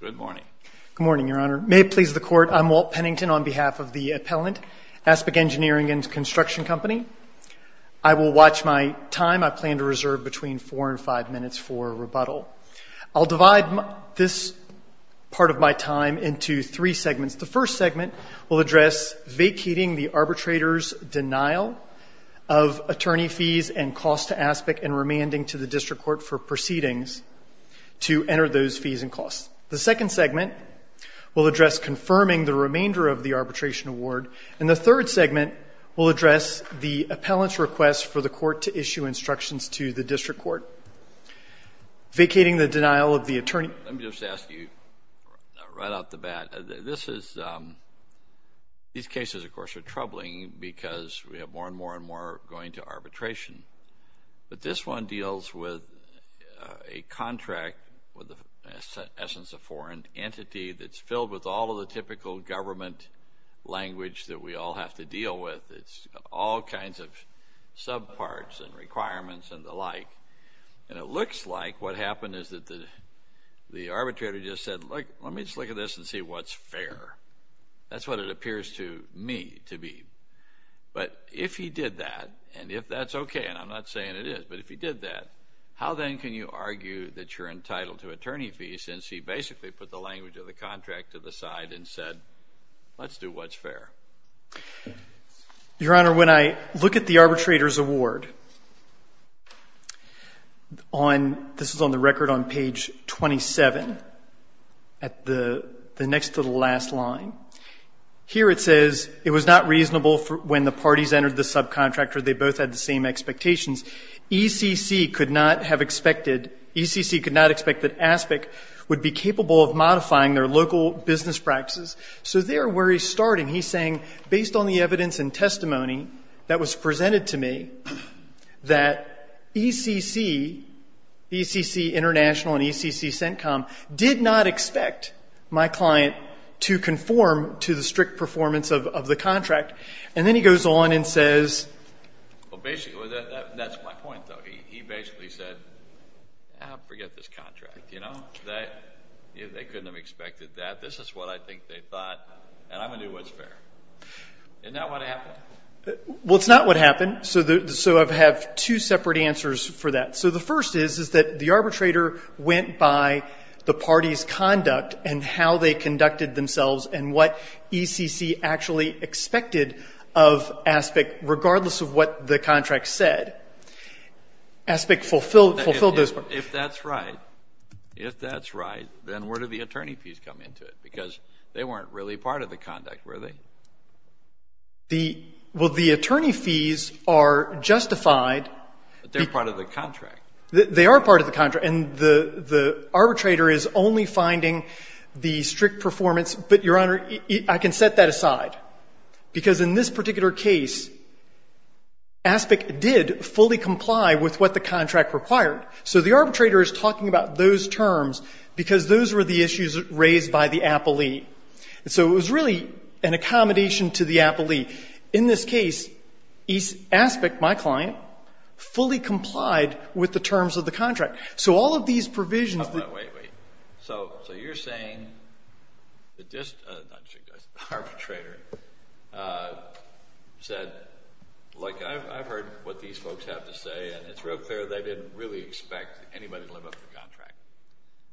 Good morning. Good morning, Your Honor. May it please the Court, I'm Walt Pennington on behalf of the appellant, Aspic Engineering and Construction Company. I will watch my time. I plan to reserve between four and five minutes for rebuttal. I'll divide this part of my time into three segments. The first segment will address vacating the arbitrator's denial of attorney fees and costs to Aspic and remanding to the district court for proceedings to enter those fees and costs. The second segment will address confirming the remainder of the arbitration award. And the third segment will address the appellant's request for the court to issue instructions to the district court. Vacating the denial of the attorney. Let me just ask you, right off the bat, this is, these cases, of course, are troubling because we have more and more and more going to arbitration. But this one deals with a contract with the essence of foreign entity that's filled with all of the typical government language that we all have to deal with. It's all kinds of subparts and requirements and the like. And it looks like what happened is that the arbitrator just said, look, let me just look at this and see what's fair. That's what it appears to me to be. But if he did that, and if that's okay, and I'm not saying it is, but if he did that, how then can you argue that you're entitled to attorney fees since he basically put the language of the contract to the side and said, let's do what's fair? Your Honor, when I look at the arbitrator's award, on, this is on the record on page 27, at the next to the last line, here it says, it was not reasonable when the parties entered the subcontractor, they both had the same expectations. ECC could not have expected, ECC could not expect that ASPIC would be capable of modifying their local business practices. So there where he's starting, he's saying, based on the evidence and testimony that was did not expect my client to conform to the strict performance of the contract. And then he goes on and says, well, basically, that's my point, though. He basically said, forget this contract, you know, that they couldn't have expected that. This is what I think they thought, and I'm going to do what's fair. Isn't that what happened? Well, it's not what happened, so I have two separate answers for that. So the first is, is that the arbitrator went by the party's conduct and how they conducted themselves and what ECC actually expected of ASPIC, regardless of what the contract said. ASPIC fulfilled those. If that's right, if that's right, then where do the attorney fees come into it? Because they weren't really part of the conduct, were they? The, well, the attorney fees are justified. But they're part of the contract. They are part of the contract. And the arbitrator is only finding the strict performance. But, Your Honor, I can set that aside, because in this particular case, ASPIC did fully comply with what the contract required. So the arbitrator is talking about those terms because those were the issues raised by the appellee. And so it was really an accommodation to the appellee. In this case, ASPIC, my client, fully complied with the terms of the contract. So all of these provisions that- Wait, wait. So you're saying that this arbitrator said, like, I've heard what these folks have to say, and it's real clear they didn't really expect anybody to live up to the contract.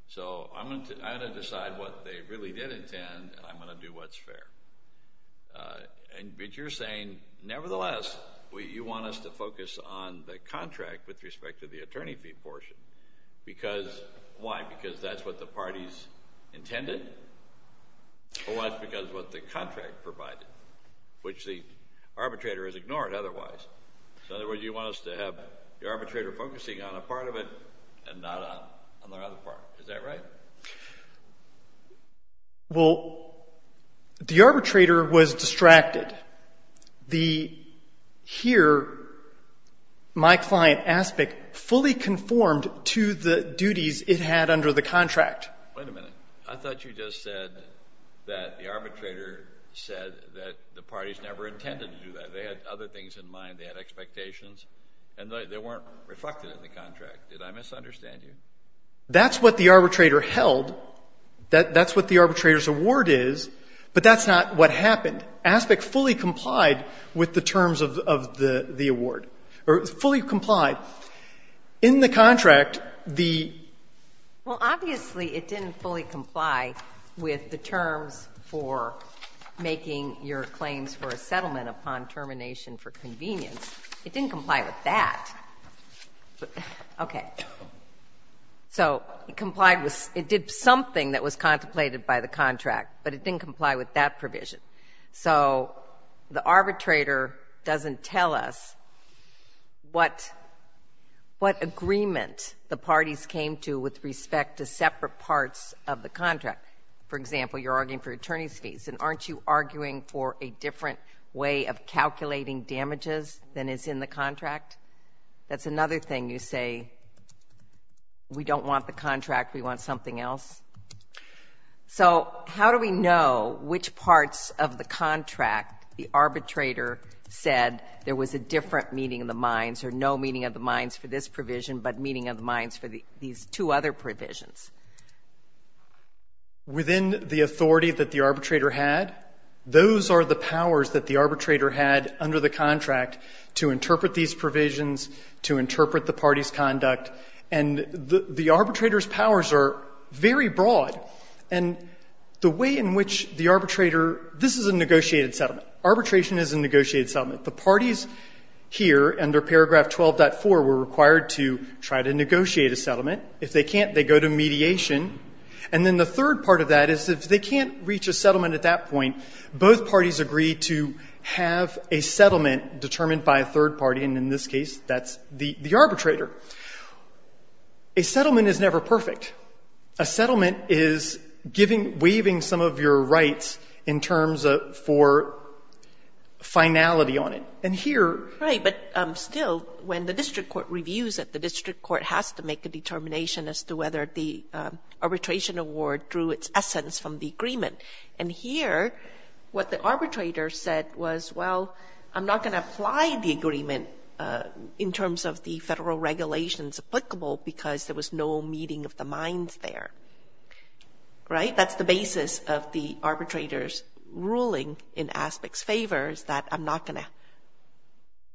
So I'm going to decide what they really did intend, and I'm going to do what's fair. And, but you're saying, nevertheless, you want us to focus on the contract with respect to the attorney fee portion, because, why? Because that's what the parties intended, or was it because of what the contract provided, which the arbitrator has ignored otherwise? So in other words, you want us to have the arbitrator focusing on a part of it and not on the other part. Is that right? Well, the arbitrator was distracted. The, here, my client, ASPIC, fully conformed to the duties it had under the contract. Wait a minute. I thought you just said that the arbitrator said that the parties never intended to do that. They had other things in mind. They had expectations. And they weren't reflected in the contract. Did I misunderstand you? That's what the arbitrator held, that's what the arbitrator's award is, but that's not what happened. ASPIC fully complied with the terms of the award, or fully complied. In the contract, the ---- Well, obviously, it didn't fully comply with the terms for making your claims for a settlement upon termination for convenience. It didn't comply with that. Okay. So, it complied with, it did something that was contemplated by the contract, but it didn't comply with that provision. So, the arbitrator doesn't tell us what agreement the parties came to with respect to separate parts of the contract. For example, you're arguing for attorney's fees, and aren't you arguing for a different way of calculating damages than is in the contract? That's another thing you say, we don't want the contract, we want something else. So how do we know which parts of the contract the arbitrator said there was a different meeting of the minds, or no meeting of the minds for this provision, but meeting of the minds for these two other provisions? Within the authority that the arbitrator had, those are the powers that the arbitrator had under the contract to interpret these provisions, to interpret the party's conduct, and the arbitrator's powers are very broad, and the way in which the arbitrator ---- this is a negotiated settlement. Arbitration is a negotiated settlement. The parties here, under paragraph 12.4, were required to try to negotiate a settlement. If they can't, they go to mediation. And then the third part of that is if they can't reach a settlement at that point, both parties agree to have a settlement determined by a third party, and in this case, that's the arbitrator. A settlement is never perfect. A settlement is giving, waiving some of your rights in terms of for finality on it. And here ---- And here, what the arbitrator said was, well, I'm not going to apply the agreement in terms of the federal regulations applicable because there was no meeting of the minds there, right? That's the basis of the arbitrator's ruling in Aspect's favor is that I'm not going to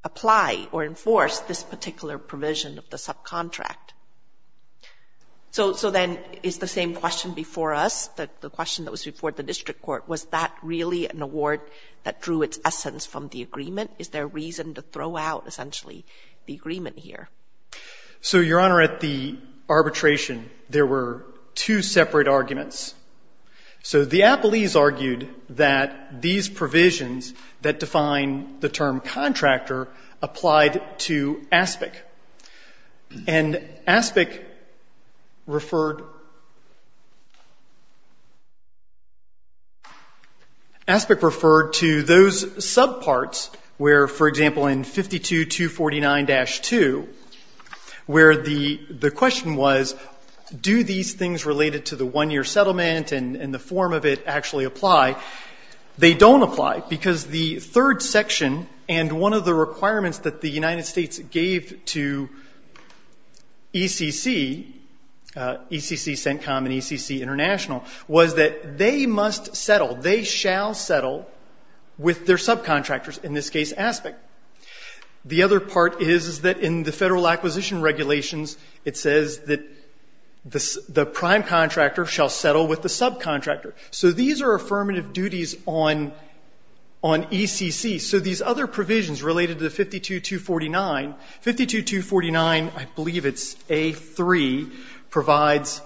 apply or enforce this particular provision of the subcontract. So then is the same question before us, the question that was before the district court, was that really an award that drew its essence from the agreement? Is there reason to throw out, essentially, the agreement here? So, Your Honor, at the arbitration, there were two separate arguments. So the appellees argued that these provisions that define the term contractor applied to Aspect. And Aspect referred to those subparts where, for example, in 52-249-2, where the settlement and the form of it actually apply. They don't apply because the third section and one of the requirements that the United States gave to ECC, ECC CENTCOM and ECC International, was that they must settle, they shall settle with their subcontractors, in this case, Aspect. The other part is that in the federal acquisition regulations, it says that the prime contractor shall settle with the subcontractor. So these are affirmative duties on ECC. So these other provisions related to 52-249, 52-249, I believe it's A-3, provides that.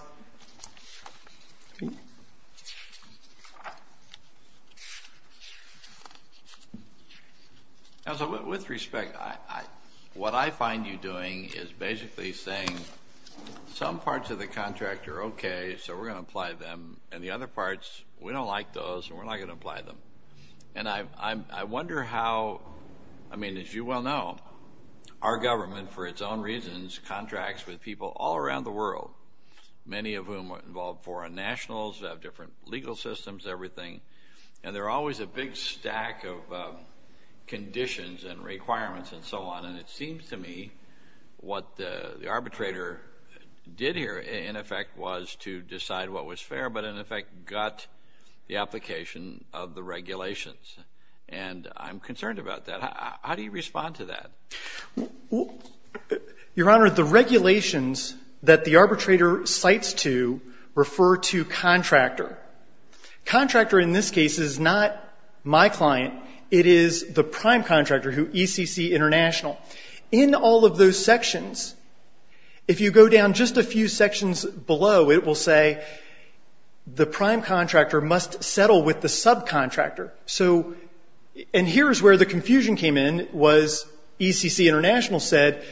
Now, so with respect, what I find you doing is basically saying some parts of the contract are okay, so we're going to apply them, and the other parts, we don't like those, and we're not going to apply them. And I wonder how, I mean, as you well know, our government, for its own reasons, contracts with people all around the world, many of whom involve foreign nationals, have different legal systems, everything, and there are always a big stack of conditions and requirements and so on, and it seems to me what the arbitrator did here, in effect, was to decide what was fair, but in effect got the application of the regulations. And I'm concerned about that. How do you respond to that? Well, Your Honor, the regulations that the arbitrator cites to refer to contractor. Contractor, in this case, is not my client. It is the prime contractor, who, ECC International. In all of those sections, if you go down just a few sections below, it will say the prime contractor must settle with the subcontractor. So, and here is where the confusion came in, was ECC International said,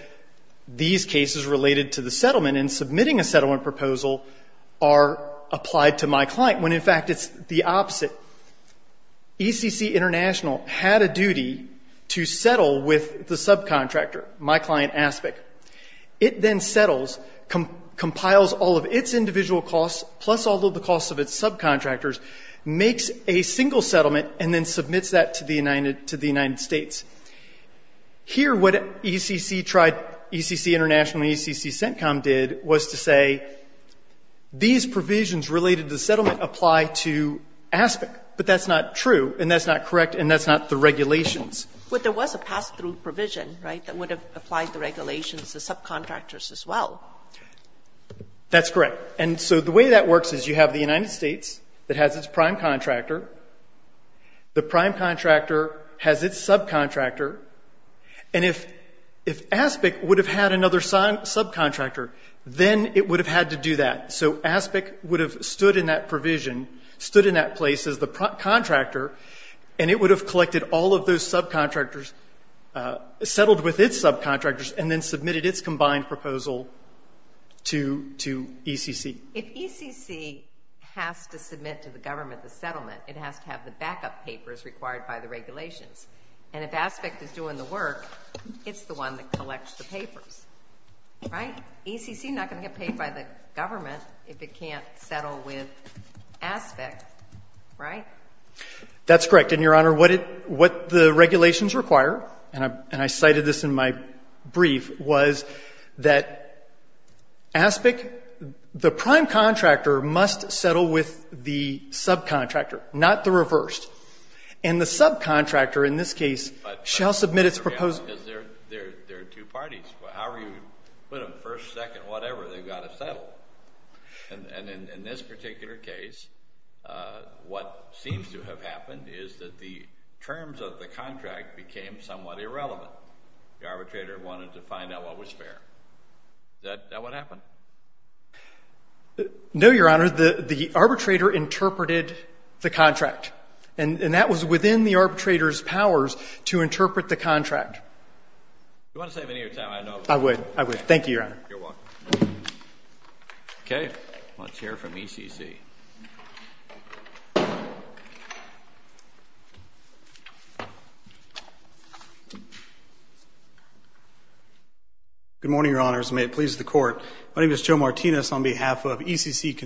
these cases related to the settlement and submitting a settlement proposal are applied to my client, when in fact it's the opposite. ECC International had a duty to settle with the subcontractor, my client, ASPIC. It then settles, compiles all of its individual costs, plus all of the costs of its subcontractors, makes a single settlement, and then submits that to the United States. Here, what ECC tried, ECC International and ECC CENTCOM did, was to say, these provisions related to settlement apply to ASPIC. But that's not true, and that's not correct, and that's not the regulations. But there was a pass-through provision, right, that would have applied the regulations to subcontractors as well. That's correct. And so the way that works is, you have the United States that has its prime contractor. The prime contractor has its subcontractor. And if ASPIC would have had another subcontractor, then it would have had to do that. So ASPIC would have stood in that provision, stood in that place as the contractor, and it would have collected all of those subcontractors, settled with its subcontractors, and then submitted its combined proposal to ECC. If ECC has to submit to the government the settlement, it has to have the backup papers required by the regulations. And if ASPIC is doing the work, it's the one that collects the papers. Right? ECC is not going to get paid by the government if it can't settle with ASPIC, right? That's correct. And, Your Honor, what the regulations require, and I cited this in my brief, was that ASPIC, the prime contractor must settle with the subcontractor, not the reversed. And the subcontractor, in this case, shall submit its proposal. There are two parties. However you put them, first, second, whatever, they've got to settle. And in this particular case, what seems to have happened is that the terms of the contract became somewhat irrelevant. The arbitrator wanted to find out what was fair. Is that what happened? No, Your Honor. The arbitrator interpreted the contract. And that was within the arbitrator's powers to interpret the contract. Do you want to save me any more time? I would. Thank you, Your Honor. You're welcome. Okay. Let's hear from ECC. Good morning, Your Honors, and may it please the Court. My name is Joe Martinez on behalf of ECC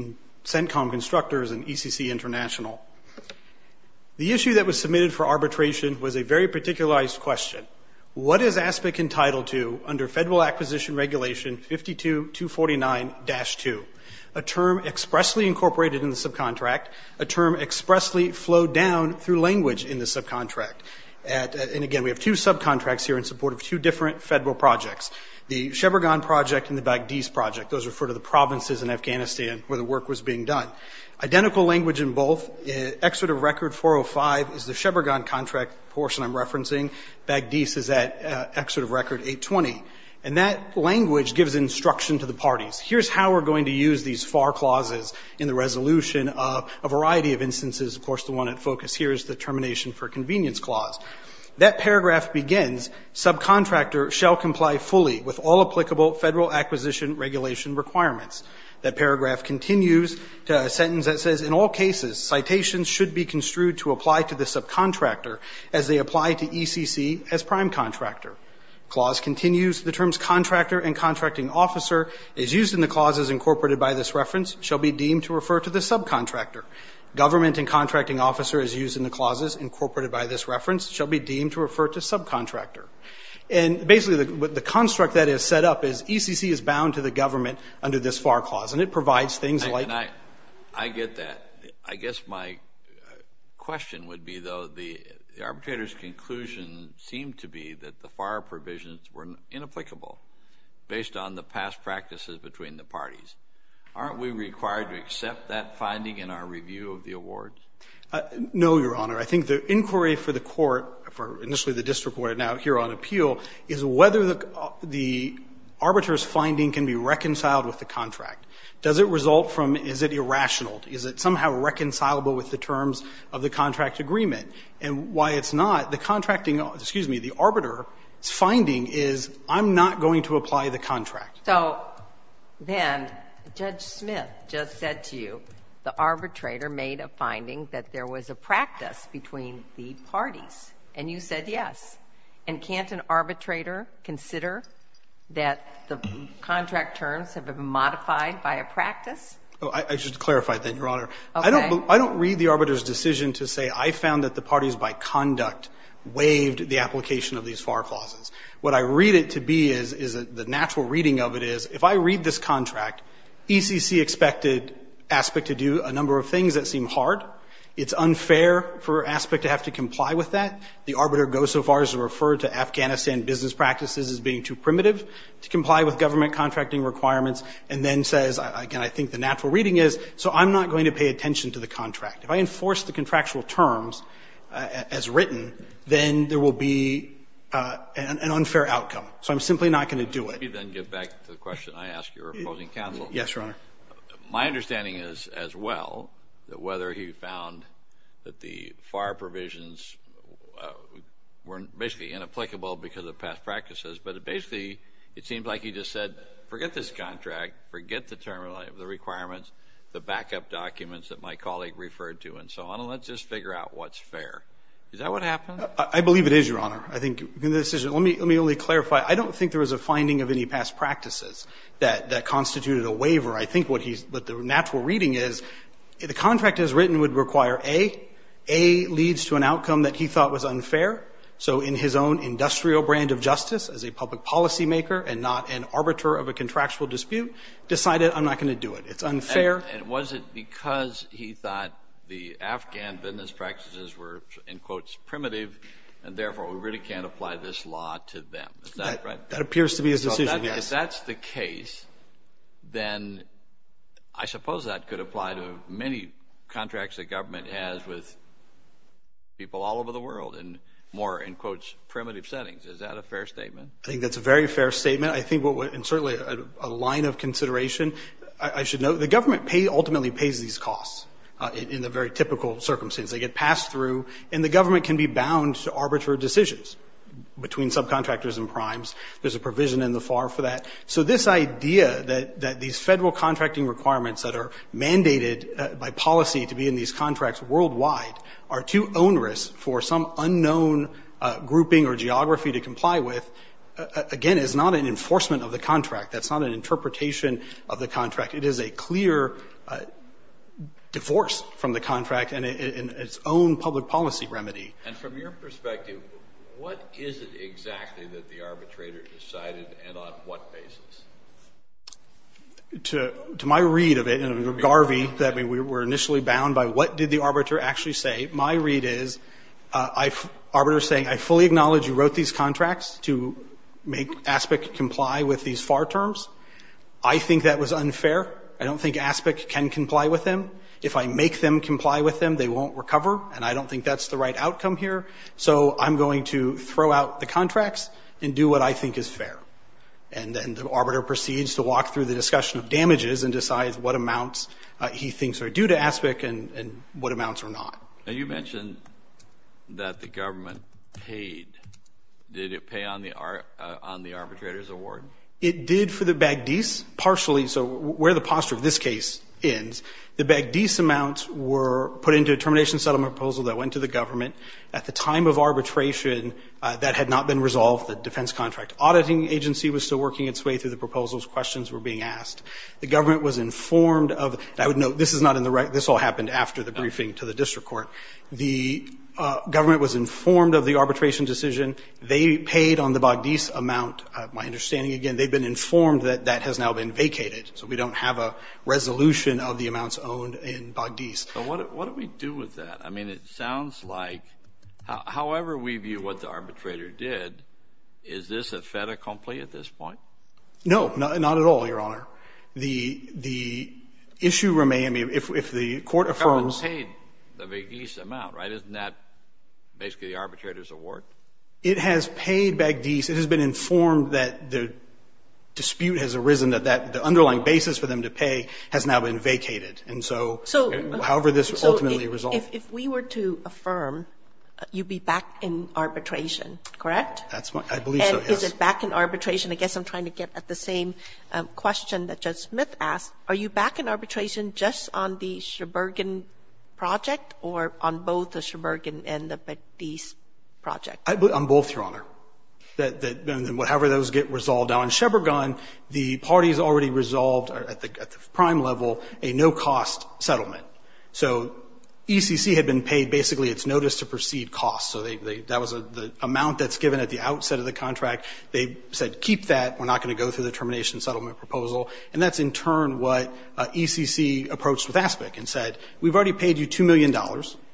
ConsentCom Constructors and ECC International. The issue that was submitted for arbitration was a very particularized question. What is ASPIC entitled to under Federal Acquisition Regulation 52-249-2? A term expressly incorporated in the subcontract, a term expressly flowed down through language in the subcontract. And, again, we have two subcontracts here in support of two different Federal projects, the Sheberghan Project and the Baghdiz Project. Those refer to the provinces in Afghanistan where the work was being done. Identical language in both. Excerpt of Record 405 is the Sheberghan Contract portion I'm referencing. Baghdiz is at Excerpt of Record 820. And that language gives instruction to the parties. Here's how we're going to use these FAR clauses in the resolution of a variety of instances. Of course, the one at focus here is the Termination for Convenience Clause. That paragraph begins, Subcontractor shall comply fully with all applicable Federal Acquisition Regulation requirements. That paragraph continues to a sentence that says, In all cases, citations should be construed to apply to the subcontractor as they apply to ECC as prime contractor. Clause continues. The terms contractor and contracting officer as used in the clauses incorporated by this reference shall be deemed to refer to the subcontractor. Government and contracting officer as used in the clauses incorporated by this reference shall be deemed to refer to subcontractor. And basically the construct that is set up is ECC is bound to the government under this FAR clause. And it provides things like... I get that. I guess my question would be, though, the arbitrator's conclusion seemed to be that the FAR provisions were inapplicable based on the past practices between the parties. Aren't we required to accept that finding in our review of the award? No, Your Honor. I think the inquiry for the court, for initially the district court, and now here on appeal, is whether the arbitrator's finding can be reconciled with the contract. Does it result from, is it irrational? Is it somehow reconcilable with the terms of the contract agreement? And why it's not, the arbitrator's finding is, I'm not going to apply the contract. So, then, Judge Smith just said to you the arbitrator made a finding that there was a practice between the parties. And you said yes. And can't an arbitrator consider that the contract terms have been modified by a practice? I should clarify that, Your Honor. I don't read the arbitrator's decision to say I found that the parties by conduct waived the application of these FAR clauses. What I read it to be is the natural reading of it is, if I read this contract, ECC expected ASPEC to do a number of things that seem hard. It's unfair for ASPEC to have to comply with that. The arbitrator goes so far as to refer to Afghanistan business practices as being too primitive to comply with government contracting requirements and then says, again, I think the natural reading is, so I'm not going to pay attention to the contract. If I enforce the contractual terms as written, then there will be an unfair outcome. So I'm simply not going to do it. Let me then get back to the question I asked your opposing counsel. Yes, Your Honor. My understanding is, as well, that whether he found that the FAR provisions were basically inapplicable because of past practices, but basically it seems like he just said, forget this contract, forget the requirements, the backup documents that my colleague referred to and so on, let's just figure out what's fair. Is that what happened? I believe it is, Your Honor. Let me only clarify. I don't think there was a finding of any past practices that constituted a waiver. I think what the natural reading is, the contract as written would require A, A leads to an outcome that he thought was unfair, so in his own industrial brand of justice, as a public policymaker and not an arbiter of a contractual dispute, decided I'm not going to do it. It's unfair. And was it because he thought the Afghan business practices were, in quotes, primitive and therefore we really can't apply this law to them? That appears to be his decision, yes. If that's the case, then I suppose that could apply to many contracts the government has with people all over the world in more, in quotes, primitive settings. Is that a fair statement? I think that's a very fair statement. And certainly a line of consideration. I should note, the government ultimately pays these costs in the very typical circumstances. They get passed through and the government can be bound to arbitrary decisions between subcontractors and primes. There's a provision in the FAR for that. So this idea that these federal contracting requirements that are mandated by policy to be in these contracts worldwide are too onerous for some unknown grouping or geography to comply with again is not an enforcement of the contract. That's not an interpretation of the contract. It is a clear divorce from the contract and its own public policy remedy. And from your perspective what is it exactly that the arbitrator decided and on what basis? To my read of it and Garvey, that we were initially bound by what did the arbiter actually say my read is arbiters saying, I fully acknowledge you wrote these contracts to make I think that was unfair. I don't think ASPIC can comply with them. If I make them comply with them, they won't recover and I don't think that's the right outcome here. So I'm going to throw out the contracts and do what I think is fair. And then the arbiter proceeds to walk through the discussion of damages and decides what amounts he thinks are due to ASPIC and what amounts are not. And you mentioned that the government paid. Did it pay on the arbitrator's reward? It did for the Bagdees partially. So where the posture of this case ends, the Bagdees amounts were put into a termination settlement proposal that went to the government. At the time of arbitration that had not been resolved, the defense contract auditing agency was still working its way through the proposals. Questions were being asked. The government was informed of I would note this is not in the record. This all happened after the briefing to the district court. The government was informed of the arbitration decision. They paid on the Bagdees amount. My understanding again, they've been informed that that has now been vacated. So we don't have a resolution of the amounts owned in Bagdees. But what do we do with that? I mean, it sounds like however we view what the arbitrator did, is this a fait accompli at this point? No, not at all, Your Honor. The issue remains if the court affirms The government paid the Bagdees amount, right? Isn't that basically the arbitrator's reward? It has paid Bagdees. It has been informed that the dispute has arisen, that the underlying basis for them to pay has now been vacated. And so however this ultimately resolves. If we were to affirm, you'd be back in arbitration, correct? I believe so, yes. Is it back in arbitration? I guess I'm trying to get at the same question that Judge Smith asked. Are you back in arbitration just on the Sheberghan project or on both the Sheberghan and the Bagdees project? On both, Your Honor. However those get resolved. On Sheberghan, the parties already resolved at the prime level a no-cost settlement. So ECC had been paid basically its notice to proceed costs. So that was the amount that's given at the outset of the contract. They said, keep that. We're not going to go through the termination settlement proposal. And that's in turn what ECC approached with ASPIC and said, we've already paid you $2 million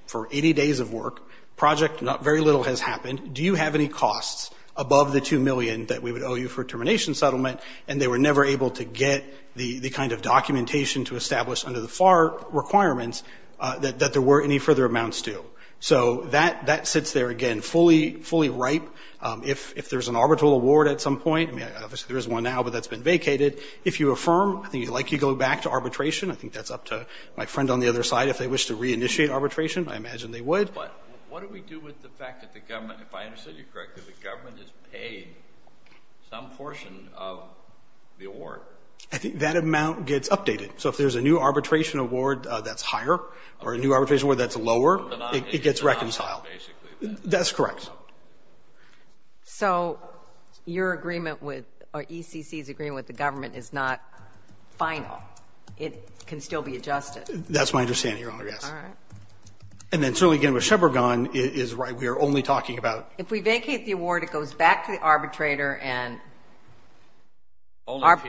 for 80 days of work. Project, not very little has happened. Do you have any costs above the $2 million that we would owe you for termination settlement? And they were never able to get the kind of documentation to establish under the FAR requirements that there were any further amounts to. So that sits there, again, fully ripe. If there's an arbitral award at some point, obviously there is one now, but that's been vacated. If you affirm, I think you'd like to go back to arbitration. I think that's up to my friend on the other side. If they wish to reinitiate arbitration, I imagine they would. But what do we do with the fact that the government, if I understood you correctly, the government has paid some portion of the award. I think that amount gets updated. So if there's a new arbitration award that's higher, or a new arbitration award that's lower, it gets reconciled. That's correct. So your agreement with or ECC's agreement with the government is not final. It can still be adjusted. That's my understanding, Your Honor, yes. And then certainly again with Sheberghan, we are only talking about If we vacate the award, it goes back to the arbitrator and Only if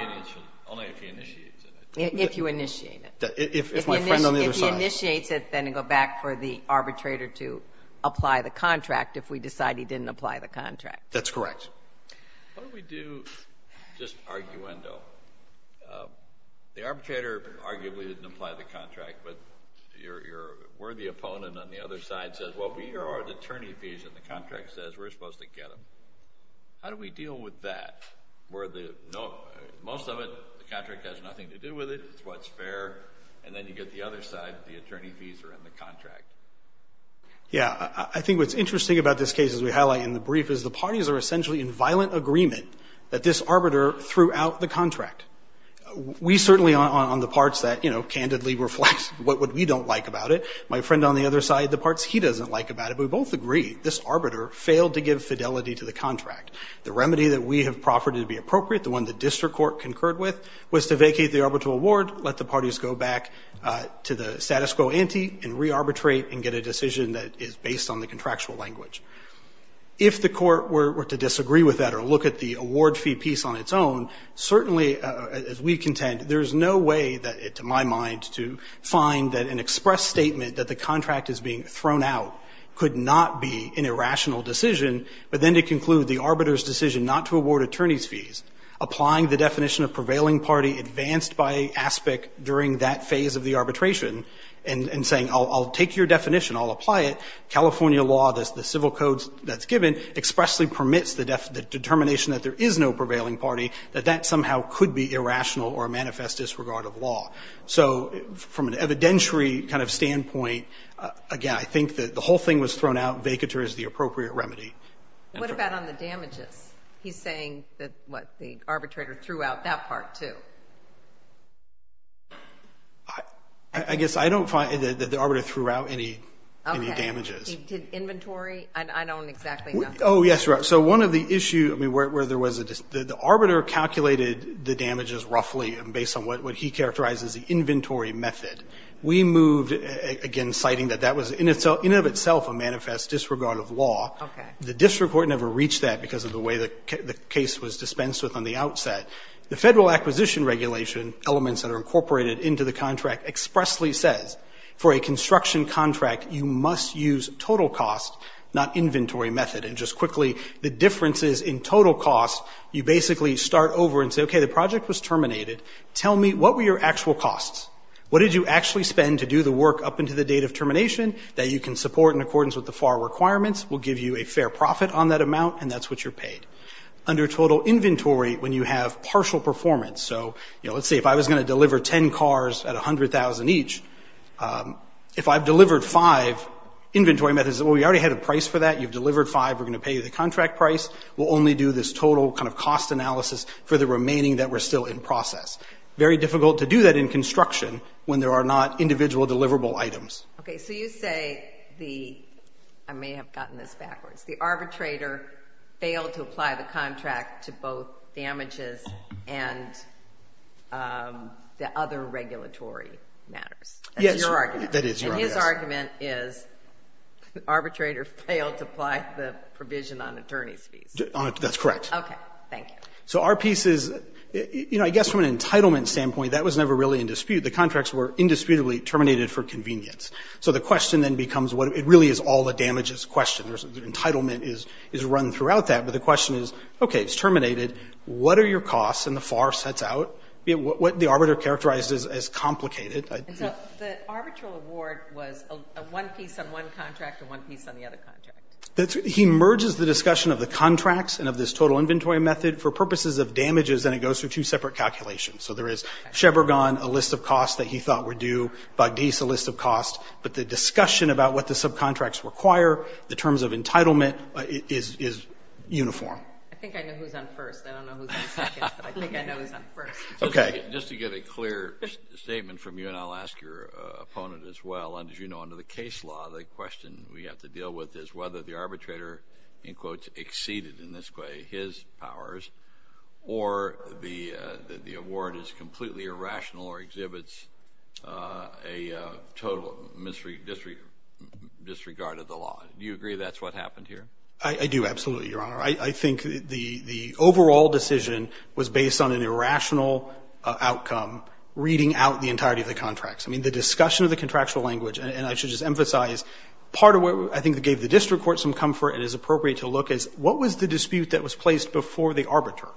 he initiates it. If you initiate it. If my friend on the other side If he initiates it, then it goes back for the arbitrator to apply the contract if we decide he didn't apply the contract. That's correct. What do we do, just arguendo, the arbitrator arguably didn't apply the contract, but your worthy opponent on the other side says, well we are at attorney fees and the contract says we're supposed to get them. How do we deal with that? Most of it, the contract has nothing to do with it. It's what's fair. And then you get the other side, the attorney fees are in the contract. Yeah, I think what's interesting about this case, as we highlight in the brief, is the parties are essentially in violent agreement that this arbiter threw out the contract. We certainly on the parts that, you know, candidly reflect what we don't like about it. My friend on the other side, the parts he doesn't like about it, but we both agree. This arbiter failed to give fidelity to the contract. The remedy that we have proffered to be appropriate, the one the district court concurred with, was to vacate the arbitral award, let the parties go back to the status quo ante and re-arbitrate and get a decision that is based on the contractual language. If the court were to disagree with that or look at the award fee piece on its own, certainly as we contend, there's no way that, to my mind, to find that an express statement that the contract is being thrown out could not be an irrational decision, but then to conclude the arbiter's decision not to award attorney's fees, applying the definition of prevailing party advanced by aspect during that phase of the arbitration, and saying, I'll take your definition, I'll apply it, California law, the law actually permits the determination that there is no prevailing party, that that somehow could be irrational or manifest disregard of law. So from an evidentiary kind of standpoint, again, I think that the whole thing was thrown out, vacatur is the appropriate remedy. What about on the damages? He's saying that, what, the arbitrator threw out that part, too. I guess I don't find that the arbiter threw out any damages. Inventory? I don't exactly know. Oh, yes, right. So one of the issues, I mean, where there was a, the arbiter calculated the damages roughly based on what he characterized as the inventory method. We moved, again, citing that that was in of itself a manifest disregard of law. The district court never reached that because of the way the case was dispensed with on the outset. The federal acquisition regulation elements that are incorporated into the contract expressly says, for a construction contract, you must use total cost, not inventory method. And just quickly, the differences in total cost, you basically start over and say, okay, the project was terminated. Tell me what were your actual costs? What did you actually spend to do the work up into the date of termination that you can support in accordance with the FAR requirements? We'll give you a fair profit on that amount, and that's what you're paid. Under total inventory, when you have partial performance, so let's say if I was going to deliver ten cars at $100,000 each, if I've delivered five inventory methods, well, we already had a price for that. You've delivered five. We're going to pay you the contract price. We'll only do this total kind of cost analysis for the remaining that we're still in process. Very difficult to do that in construction when there are not individual deliverable items. Okay, so you say the, I may have gotten this backwards, the arbitrator failed to apply the contract to both damages and the other regulatory matters. Yes, that is your argument. And his argument is the arbitrator failed to apply the provision on attorney's fees. That's correct. Okay, thank you. So our piece is, you know, I guess from an entitlement standpoint that was never really in dispute. The contracts were indisputably terminated for convenience. So the question then becomes, it really is all the damages question. Entitlement is run throughout that, but the question is, okay, it's terminated. What are your costs and the FAR sets out? What the arbitrator characterized as complicated. So the arbitral award was a one piece on one contract and one piece on the other contract. He merges the discussion of the contracts and of this total inventory method for purposes of damages, and it goes through two separate calculations. So there is Sheberghan, a list of costs that he thought were due, Bogdice, a list of costs, but the discussion about what the subcontracts require, the terms of entitlement, is uniform. I think I know who's on first. I don't know who's on second, but I think I know who's on first. Just to get a clear statement from you, and I'll ask your opponent as well, as you know, under the case law, the question we have to deal with is whether the arbitrator, in quotes, exceeded, in this way, his powers or the award is completely irrational or exhibits a total disregard of the law. Do you agree that's what happened here? I do, absolutely, Your Honor. I think the overall decision was based on an irrational outcome, reading out the entirety of the contracts. I mean, the discussion of the contractual language, and I should just emphasize part of what I think gave the district court some comfort and is appropriate to look at is what was the dispute that was placed before the arbiter?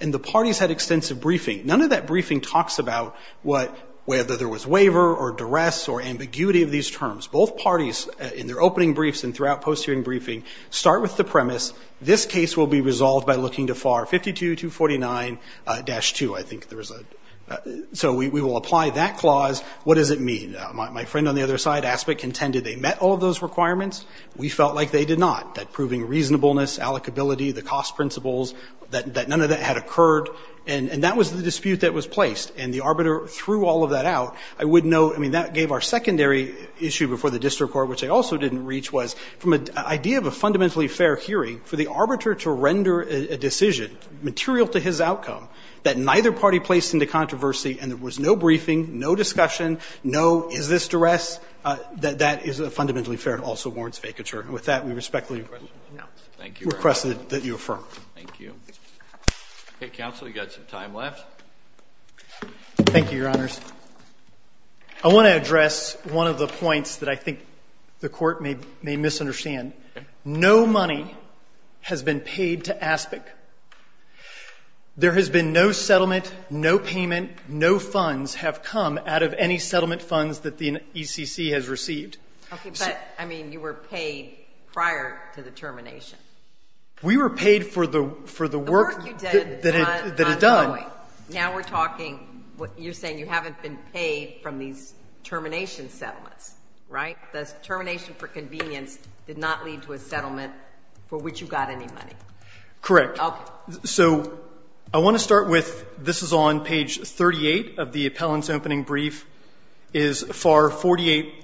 And the parties had extensive briefing. None of that briefing talks about whether there was waiver or duress or ambiguity of these terms. Both parties, in their opening briefs and throughout post-hearing briefing, start with the premise, this case will be resolved by looking to FAR 52-249-2. I think there was a so we will apply that clause. What does it mean? My friend on the other side aspect contended they met all of those requirements. We felt like they did not. That proving reasonableness, allocability, the cost principles, that none of that had occurred, and that was the dispute that was placed. And the arbiter threw all of that out. I would note, I mean, that gave our secondary issue before the district court, which I also didn't reach, was from an idea of a fundamentally fair hearing for the arbiter to render a decision material to his outcome that neither party placed into controversy and there was no briefing, no discussion, no is this duress, that that is fundamentally fair and also warrants vacature. With that, we respectfully request that you affirm. Thank you. Okay, counsel, you've got some time left. Thank you, Your Honors. I want to address one of the points that I think the Court may misunderstand. No money has been paid to ASPIC. There has been no settlement, no payment, no funds have come out of any settlement funds that the ECC has received. Okay, but, I mean, you were paid prior to the termination. We were paid for the work that it done. Now we're talking what you're saying, you haven't been paid from these termination settlements, right? The termination for convenience did not lead to a settlement for which you got any money. Correct. So, I want to start with, this is on page 38 of the appellant's opening brief, is FAR 48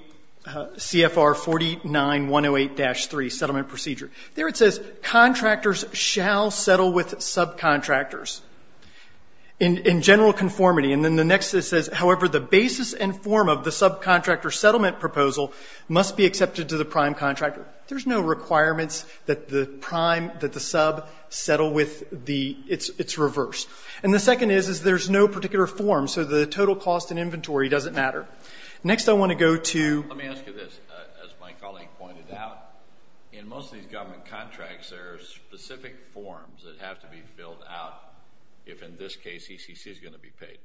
CFR 49-108-3 Settlement Procedure. There it says contractors shall settle with subcontractors in general conformity. And then the next it says, however, the basis and form of the subcontractor settlement proposal must be accepted to the prime contractor. There's no requirements that the prime, that the sub settle with the, it's reversed. And the second is, is there's no particular form, so the total cost and inventory doesn't matter. Next I want to go to... Let me ask you this, as my colleague pointed out, in most of these government contracts, there are specific forms that have to be filled out, if in this case ECC is going to be paid.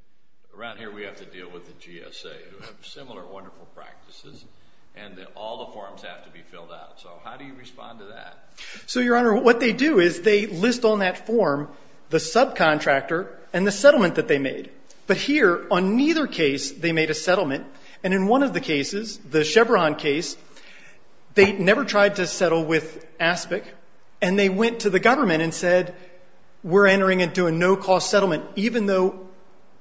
Around here we have to deal with the GSA who have similar wonderful practices. And all the forms have to be filled out. So how do you respond to that? So, Your Honor, what they do is they list on that form the subcontractor and the settlement that they made. But here, on neither case, they made a settlement. And in one of the cases, the Chevron case, they never tried to settle with ASPIC. And they went to the government and said, we're entering into a no-cost settlement even though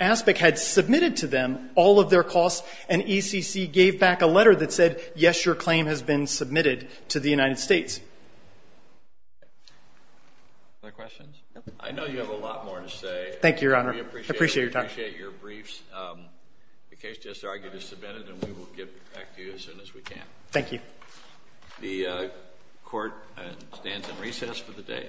ASPIC had submitted to them all of their costs and ECC gave back a letter that said, yes, your claim has been submitted to the United States. Any other questions? I know you have a lot more to say. Thank you, Your Honor. I appreciate your time. We appreciate your briefs. The case just argued is submitted and we will get back to you as soon as we can. Thank you. The Court stands in recess for the day.